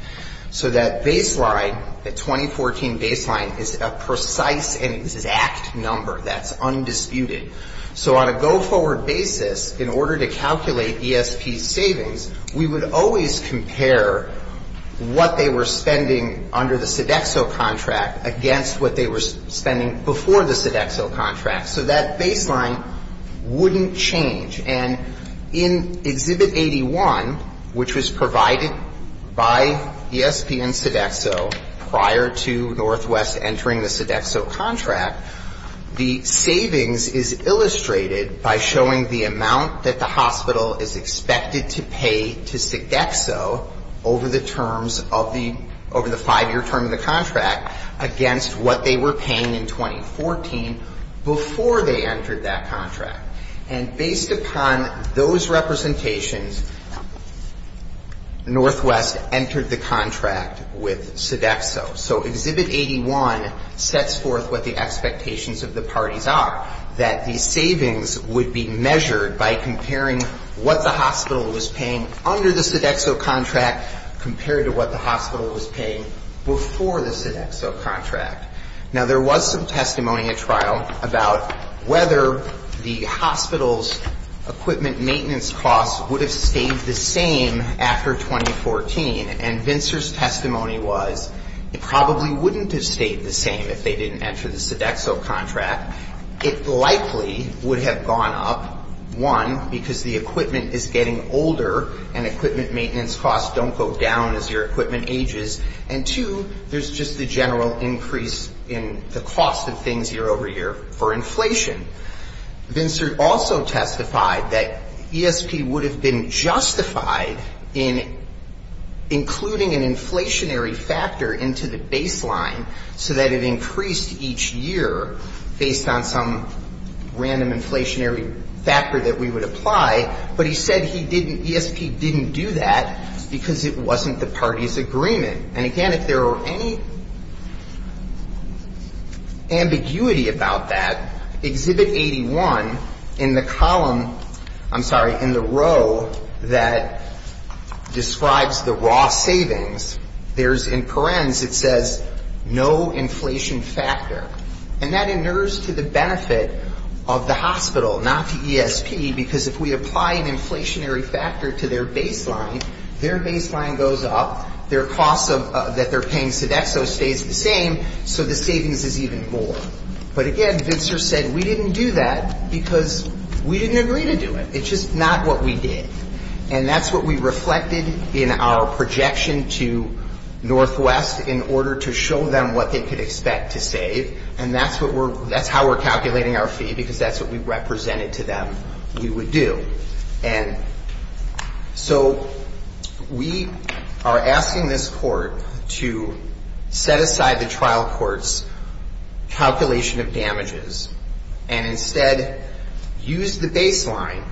So that baseline The 2014 baseline is a precise and exact number That's undisputed So on a go-forward basis In order to calculate ESP's savings We would always compare what they were spending Under the Sodexo contract against what they were spending Before the Sodexo contract So that baseline wouldn't change And in Exhibit 81 Which was provided by ESP and Sodexo Prior to Northwest entering the Sodexo contract The savings is illustrated By showing the amount that the hospital Is expected to pay to Sodexo Over the five-year term of the contract Against what they were paying in 2014 Before they entered that contract And based upon those representations Northwest entered the contract With Sodexo So Exhibit 81 sets forth what the expectations Of the parties are That the savings would be measured by comparing What the hospital was paying under the Sodexo contract Compared to what the hospital was paying Before the Sodexo contract Now there was some testimony at trial About whether the hospital's equipment maintenance costs Would have stayed the same after 2014 And Vincer's testimony was It probably wouldn't have stayed the same If they didn't enter the Sodexo contract It likely would have gone up One, because the equipment is getting older And equipment maintenance costs don't go down As your equipment ages And two, there's just the general increase In the cost of things year over year for inflation Vincer also testified that ESP would have been justified In including an inflationary factor Into the baseline So that it increased each year Based on some random inflationary factor That we would apply But he said ESP didn't do that Because it wasn't the party's agreement And again, if there were any ambiguity about that Exhibit 81 in the column I'm sorry, in the row That describes the raw savings There's in parens it says No inflation factor And that inures to the benefit of the hospital Not to ESP Because if we apply an inflationary factor to their baseline Their baseline goes up Their costs that they're paying Sodexo stays the same So the savings is even more But again, Vincer said we didn't do that Because we didn't agree to do it It's just not what we did And that's what we reflected in our projection to Northwest In order to show them what they could expect to save And that's how we're calculating our fee Because that's what we represented to them We would do And so we are asking this court To set aside the trial court's calculation of damages And instead use the baseline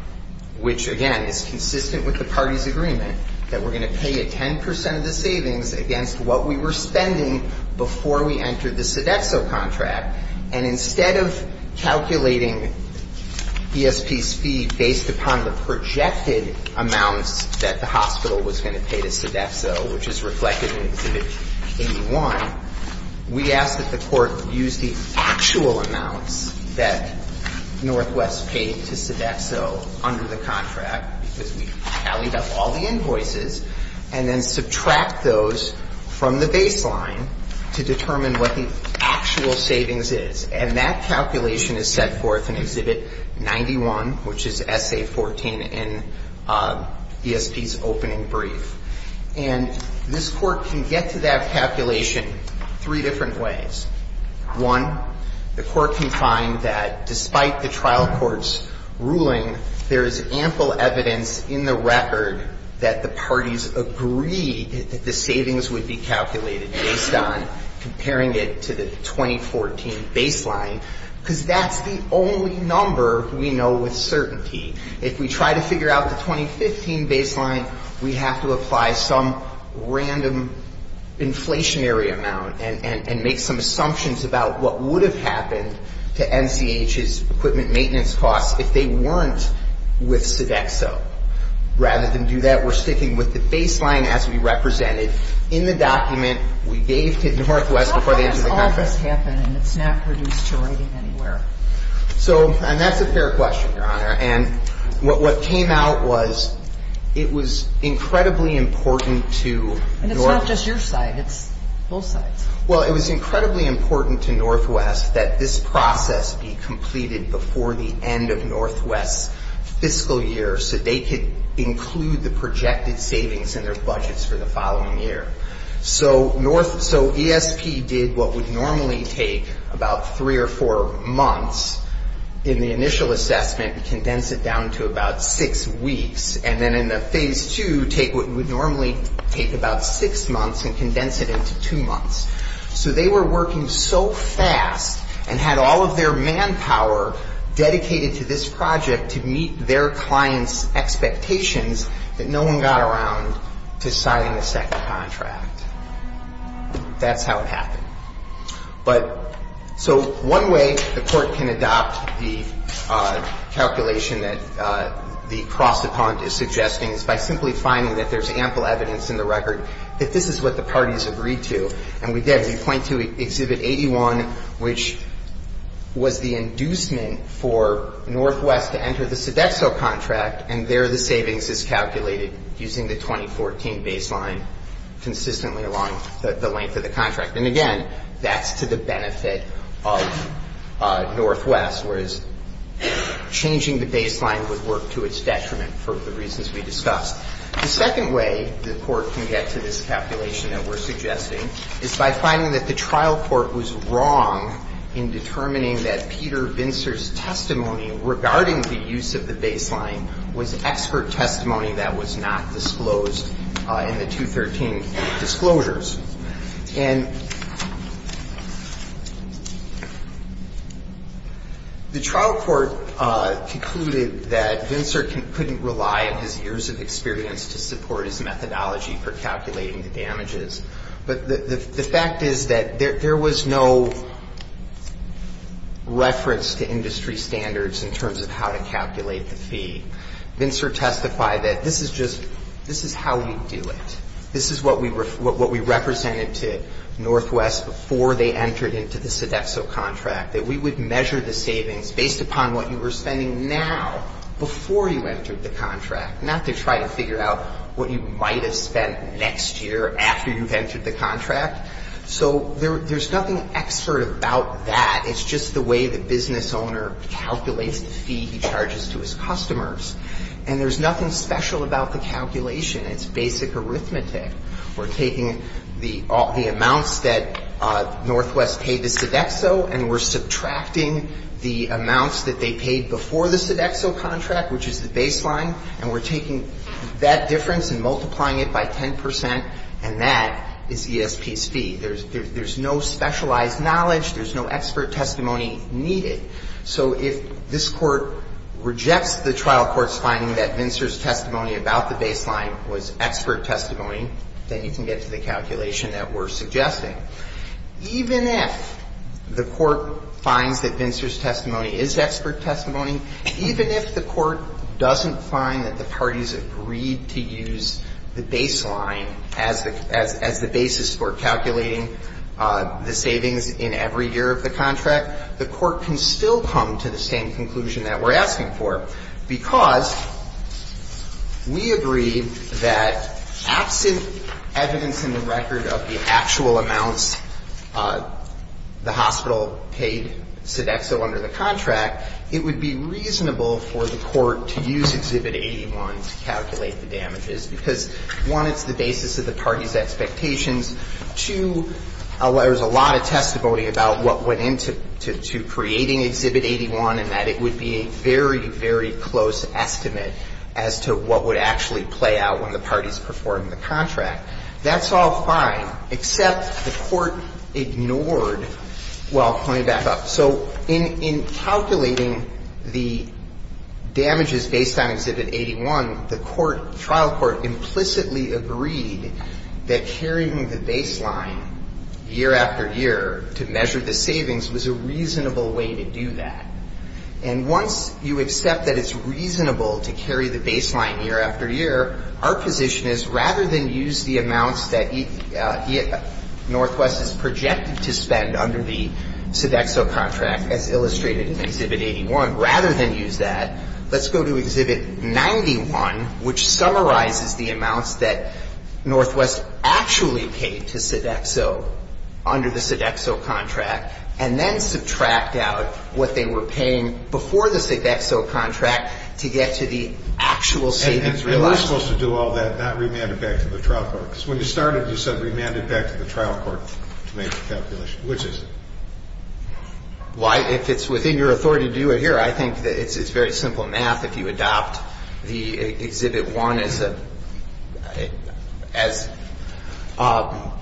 Which, again, is consistent with the party's agreement That we're going to pay a 10 percent of the savings Against what we were spending Before we entered the Sodexo contract And instead of calculating ESP's fee Based upon the projected amounts That the hospital was going to pay to Sodexo Which is reflected in exhibit 81 We ask that the court use the actual amounts That Northwest paid to Sodexo Under the contract Because we tallied up all the invoices And then subtract those from the baseline To determine what the actual savings is And that calculation is set forth in exhibit 91 Which is essay 14 in ESP's opening brief And this court can get to that calculation Three different ways One, the court can find that despite the trial court's ruling There is ample evidence in the record That the parties agreed That the savings would be calculated Based on comparing it to the 2014 baseline Because that's the only number we know with certainty If we try to figure out the 2015 baseline We have to apply some random Inflationary amount and make some assumptions About what would have happened to NCH's Equipment maintenance costs if they weren't with Sodexo Rather than do that We're sticking with the baseline as we represented In the document we gave to Northwest Before they entered the contract And that's a fair question, Your Honor And what came out was It was incredibly important to And it's not just your side, it's both sides Well, it was incredibly important to Northwest That this process be completed before the end of Northwest's Fiscal year so they could include The projected savings in their budgets for the following year So ESP did what would normally take About three or four months In the initial assessment And condense it down to about six weeks And then in the phase two, take what would normally Take about six months and condense it into two months So they were working so fast And had all of their manpower dedicated to this project To meet their client's expectations That no one got around to signing the second contract That's how it happened So one way the court can adopt The calculation that the cross-opponent is suggesting Is by simply finding that there's ample evidence in the record That this is what the parties agreed to And we did, we point to Exhibit 81 Which was the inducement for Northwest To enter the Sodexo contract And there the savings is calculated Using the 2014 baseline consistently along the length of the contract And again, that's to the benefit of Northwest Whereas changing the baseline would work to its detriment For the reasons we discussed The second way the court can get to this calculation that we're suggesting Is by finding that the trial court was wrong In determining that Peter Bincer's testimony Regarding the use of the baseline Was expert testimony that was not disclosed In the 2013 disclosures And The trial court concluded That Bincer couldn't rely on his years of experience To support his methodology For calculating the damages But the fact is that there was no Reference to industry standards In terms of how to calculate the fee Bincer testified that this is just This is how we do it This is what we represented to Northwest Before they entered into the Sodexo contract That we would measure the savings based upon what you were spending now Before you entered the contract Not to try to figure out what you might have spent next year After you've entered the contract So there's nothing expert about that It's just the way the business owner calculates the fee He charges to his customers And there's nothing special about the calculation It's basic arithmetic We're taking the amounts that Northwest paid to Sodexo And we're subtracting the amounts that they paid before the Sodexo contract Which is the baseline And we're taking that difference and multiplying it by 10% And that is ESP's fee There's no specialized knowledge There's no expert testimony needed So if this court rejects the trial court's finding That Bincer's testimony about the baseline was expert testimony Then you can get to the calculation that we're suggesting Even if the court finds that Bincer's testimony is expert testimony Even if the court doesn't find that the parties agreed to use the baseline As the basis for calculating the savings The court can still use the baseline As the basis for calculating the savings And we can still come to the same conclusion that we're asking for Because we agree that Absent evidence in the record Of the actual amounts The hospital paid Sodexo under the contract It would be reasonable for the court To use Exhibit 81 to calculate the damages Because one, it's the basis of the parties' expectations Two, there's a lot of testimony About what went into creating Exhibit 81 And that it would be a very, very close estimate As to what would actually play out When the parties performed the contract That's all fine, except the court ignored Well, I'll point it back up So in calculating the damages based on Exhibit 81 The trial court implicitly agreed That carrying the baseline Year after year to measure the savings Was a reasonable way to do that And once you accept that it's reasonable to carry the baseline Year after year, our position is Rather than use the amounts that Northwest is projected to spend under the Sodexo contract As illustrated in Exhibit 81 Rather than use that, let's go to Exhibit 91 Which summarizes the amounts that Northwest is projected to spend Under the Sodexo contract And then subtract out what they were paying Before the Sodexo contract To get to the actual savings realized And we're supposed to do all that, not remand it back to the trial court Because when you started, you said remand it back to the trial court To make the calculation. Which is it? Why, if it's within your authority to do it here I think it's very simple math If you adopt the Exhibit 1 As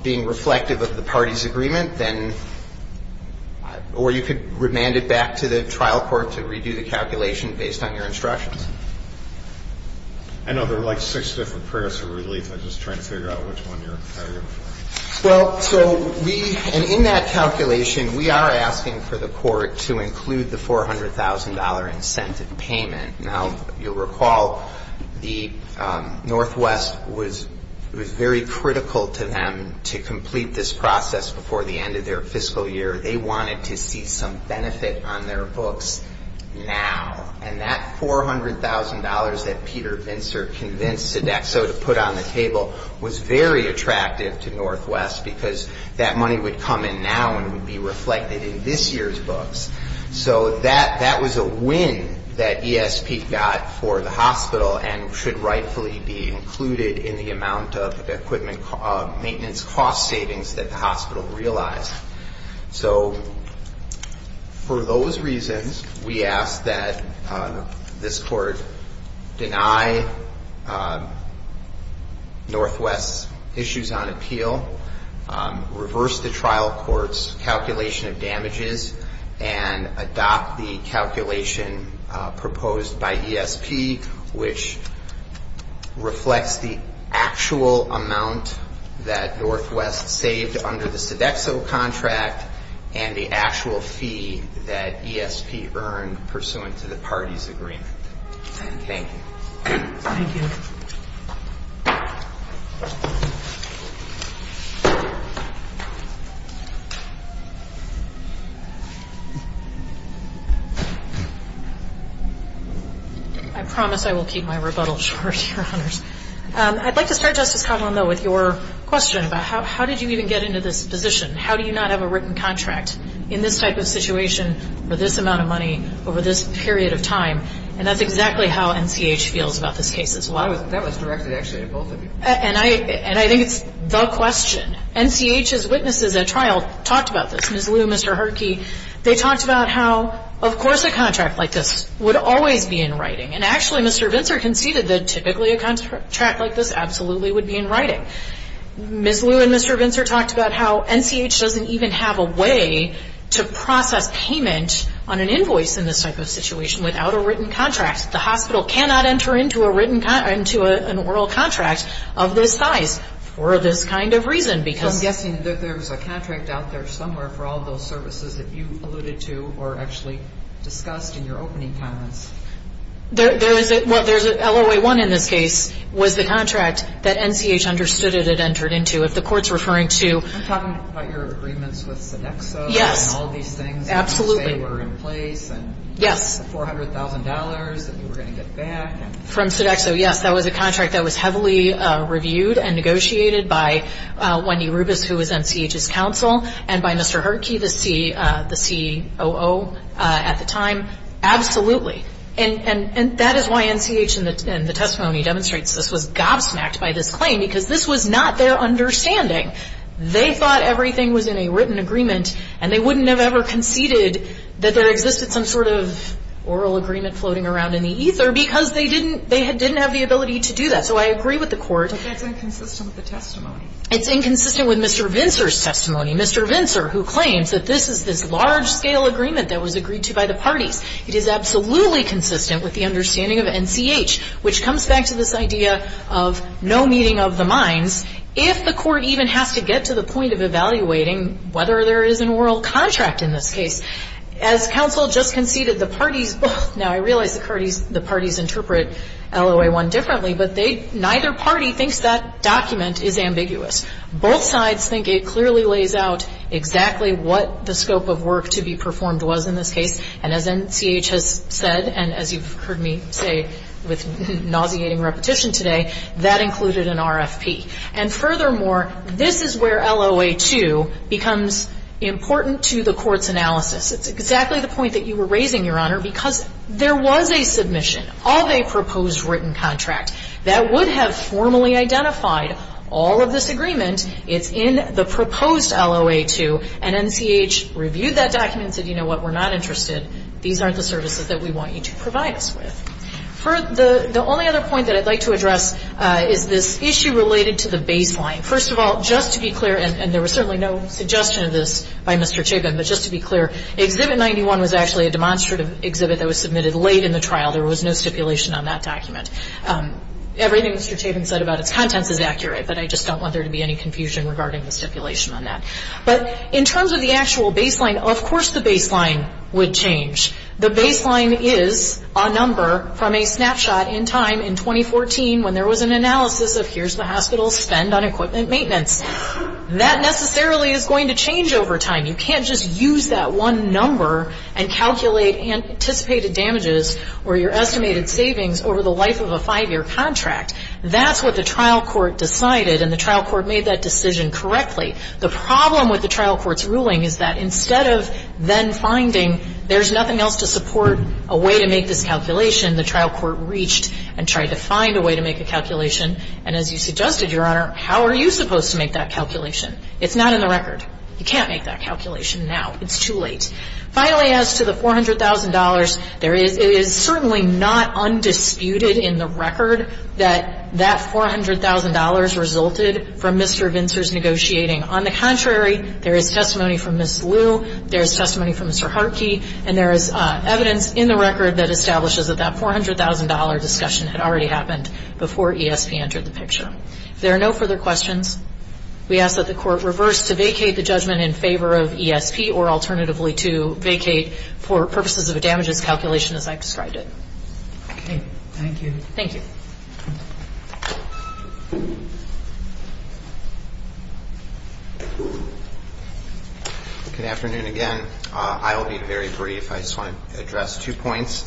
being reflective of the party's agreement Then Or you could remand it back to the trial court To redo the calculation based on your instructions I know there are like six different prayers for relief I'm just trying to figure out which one you're referring to Well, so we And in that calculation, we are asking for the court To include the $400,000 incentive payment Now, you'll recall Northwest was very critical to them To complete this process before the end of their fiscal year They wanted to see some benefit on their books Now And that $400,000 that Peter Vintzer convinced Sodexo To put on the table Was very attractive to Northwest Because that money would come in now And would be reflected in this year's books So that was a win that ESP got for the hospital And should rightfully be included In the amount of equipment maintenance cost savings That the hospital realized So for those reasons We ask that this court Deny Northwest's issues on appeal Reverse the trial court's calculation of damages And adopt the calculation Proposed by ESP Which reflects the actual amount That Northwest saved under the Sodexo contract And the actual fee That ESP earned pursuant to the parties agreement And thank you Thank you I promise I will keep my rebuttal short I'd like to start Justice Kotlin with your question How did you even get into this position How do you not have a written contract In this type of situation For this amount of money Over this period of time And that's exactly how NCH feels about this case And I think it's the question NCH's witnesses at trial talked about this They talked about how Of course a contract like this would always be in writing And actually Mr. Vintzer conceded That typically a contract like this would be in writing Ms. Liu and Mr. Vintzer talked about how NCH doesn't even have a way to process payment On an invoice in this type of situation Without a written contract The hospital cannot enter into an oral contract of this size For this kind of reason I'm guessing there's a contract out there somewhere For all those services that you alluded to Or actually discussed in your opening comments There's an LOA-1 in this case Was the contract that NCH understood it had entered into If the court's referring to I'm talking about your agreements with Sodexo And all these things that you say were in place The $400,000 that you were going to get back From Sodexo, yes, that was a contract that was heavily reviewed And negotiated by Wendy Rubis who was NCH's counsel And by Mr. Hertke, the COO at the time Absolutely. And that is why NCH In the testimony demonstrates this was gobsmacked by this claim Because this was not their understanding They thought everything was in a written agreement And they wouldn't have ever conceded that there existed some sort of Oral agreement floating around in the ether Because they didn't have the ability to do that So I agree with the court But that's inconsistent with the testimony It's inconsistent with Mr. Vintzer's testimony Mr. Vintzer who claims that this is this large-scale agreement That was agreed to by the parties It is absolutely consistent with the understanding of NCH Which comes back to this idea of no meeting of the minds If the court even has to get to the point of evaluating Whether there is an oral contract in this case As counsel just conceded the parties Now I realize the parties interpret LOA-1 differently But neither party thinks that document is ambiguous Both sides think it clearly lays out Exactly what the scope of work to be performed was in this case And as NCH has said And as you've heard me say with nauseating repetition today That included an RFP And furthermore, this is where LOA-2 Becomes important to the court's analysis It's exactly the point that you were raising, Your Honor Because there was a submission of a proposed written contract That would have formally identified all of this agreement It's in the proposed LOA-2 And NCH reviewed that document And said, you know what, we're not interested These aren't the services that we want you to provide us with The only other point that I'd like to address Is this issue related to the baseline First of all, just to be clear And there was certainly no suggestion of this by Mr. Chabin But just to be clear, Exhibit 91 was actually a demonstrative exhibit That was submitted late in the trial There was no stipulation on that document Everything Mr. Chabin said about its contents is accurate But I just don't want there to be any confusion regarding the stipulation on that But in terms of the actual baseline Of course the baseline would change The baseline is a number from a snapshot in time in 2014 When there was an analysis of here's the hospital's spend on equipment maintenance That necessarily is going to change over time You can't just use that one number And calculate anticipated damages Or your estimated savings over the life of a five-year contract That's what the trial court decided And the trial court made that decision correctly The problem with the trial court's ruling is that instead of then finding There's nothing else to support a way to make this calculation The trial court reached and tried to find a way to make a calculation And as you suggested, Your Honor, how are you supposed to make that calculation? It's not in the record You can't make that calculation now. It's too late Finally, as to the $400,000 It is certainly not undisputed in the record That that $400,000 resulted from Mr. Vintzer's negotiating On the contrary, there is testimony from Ms. Liu There is testimony from Mr. Hartke And there is evidence in the record that establishes That that $400,000 discussion had already happened Before ESP entered the picture There are no further questions We ask that the court reverse to vacate the judgment in favor of ESP Or alternatively to vacate for purposes of a damages calculation As I've described it Thank you Good afternoon, again I'll be very brief I just want to address two points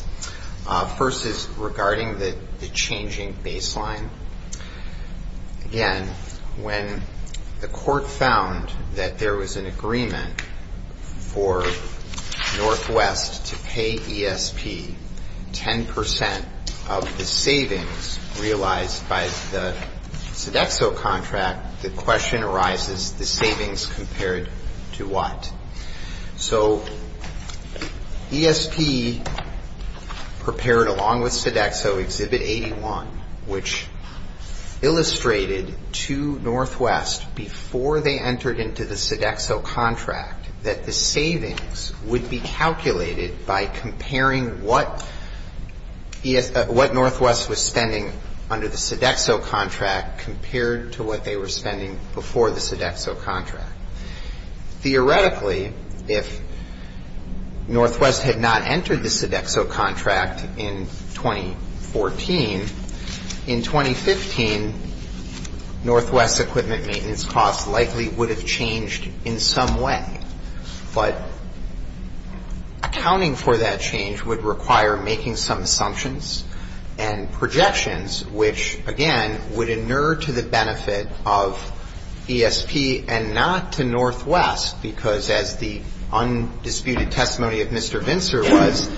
First is regarding the changing baseline Again, when the court found That there was an agreement 10% of the savings That they had made In the case of the Sodexo contract The question arises The savings compared to what? So ESP Prepared along with Sodexo Exhibit 81 Which illustrated to Northwest Before they entered into the Sodexo contract That the savings would be calculated By comparing what What Northwest was spending under the Sodexo contract Compared to what they were spending before the Sodexo contract Theoretically If Northwest had not entered the Sodexo contract In 2014 In 2015 Northwest's equipment maintenance costs Likely would have changed in some way But accounting for that change Would require making some assumptions And projections Which again would inure to the benefit of ESP And not to Northwest Because as the undisputed testimony of Mr. Vintzer was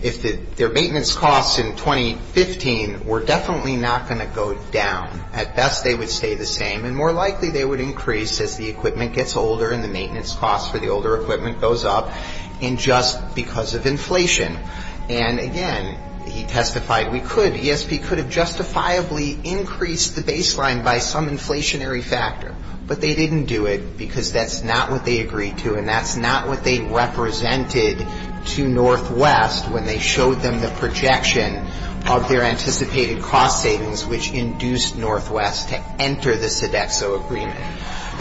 If their maintenance costs in 2015 Were definitely not going to go down At best they would stay the same And more likely they would increase As the equipment gets older And the maintenance costs for the older equipment goes up And just because of inflation And again he testified ESP could have justifiably increased the baseline By some inflationary factor But they didn't do it Because that's not what they agreed to And that's not what they represented to Northwest When they showed them the projection Of their anticipated cost savings Which induced Northwest to enter the Sodexo agreement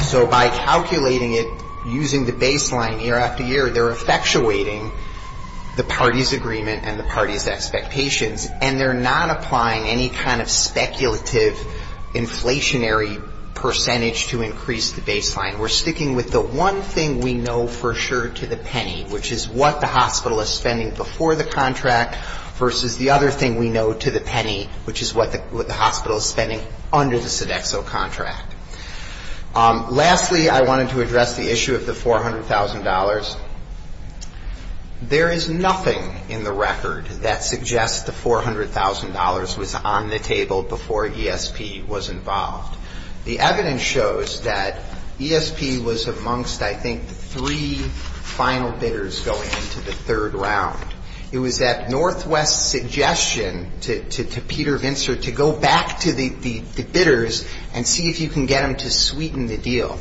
So by calculating it Using the baseline year after year They're effectuating the party's agreement And the party's expectations And they're not applying any kind of speculative Inflationary percentage to increase the baseline We're sticking with the one thing we know for sure To the penny Which is what the hospital is spending before the contract Versus the other thing we know to the penny Which is what the hospital is spending under the Sodexo contract Lastly I wanted to address the issue of the $400,000 There is nothing in the record That suggests the $400,000 was on the table Before ESP was involved The evidence shows that ESP was amongst I think the three final bidders Going into the third round It was at Northwest's suggestion to Peter Vintzer To go back to the bidders And see if you can get them to sweeten the deal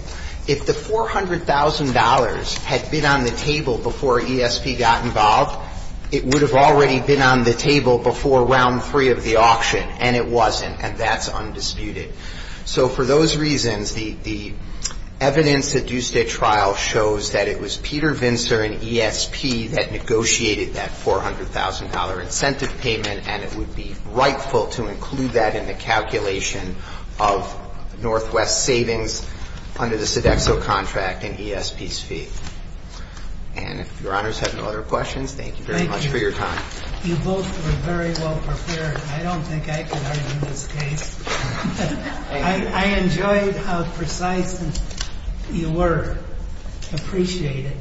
If the $400,000 had been on the table Before ESP got involved It would have already been on the table Before round three of the auction And it wasn't And that's undisputed So for those reasons the evidence That the trial shows That it was Peter Vintzer and ESP That negotiated that $400,000 incentive payment And it would be rightful to include that In the calculation of Northwest's savings Under the Sodexo contract and ESP's fee And if your honors have no other questions Thank you very much for your time You both were very well prepared I don't think I could argue this case I enjoyed how precise you were I appreciate it Thank you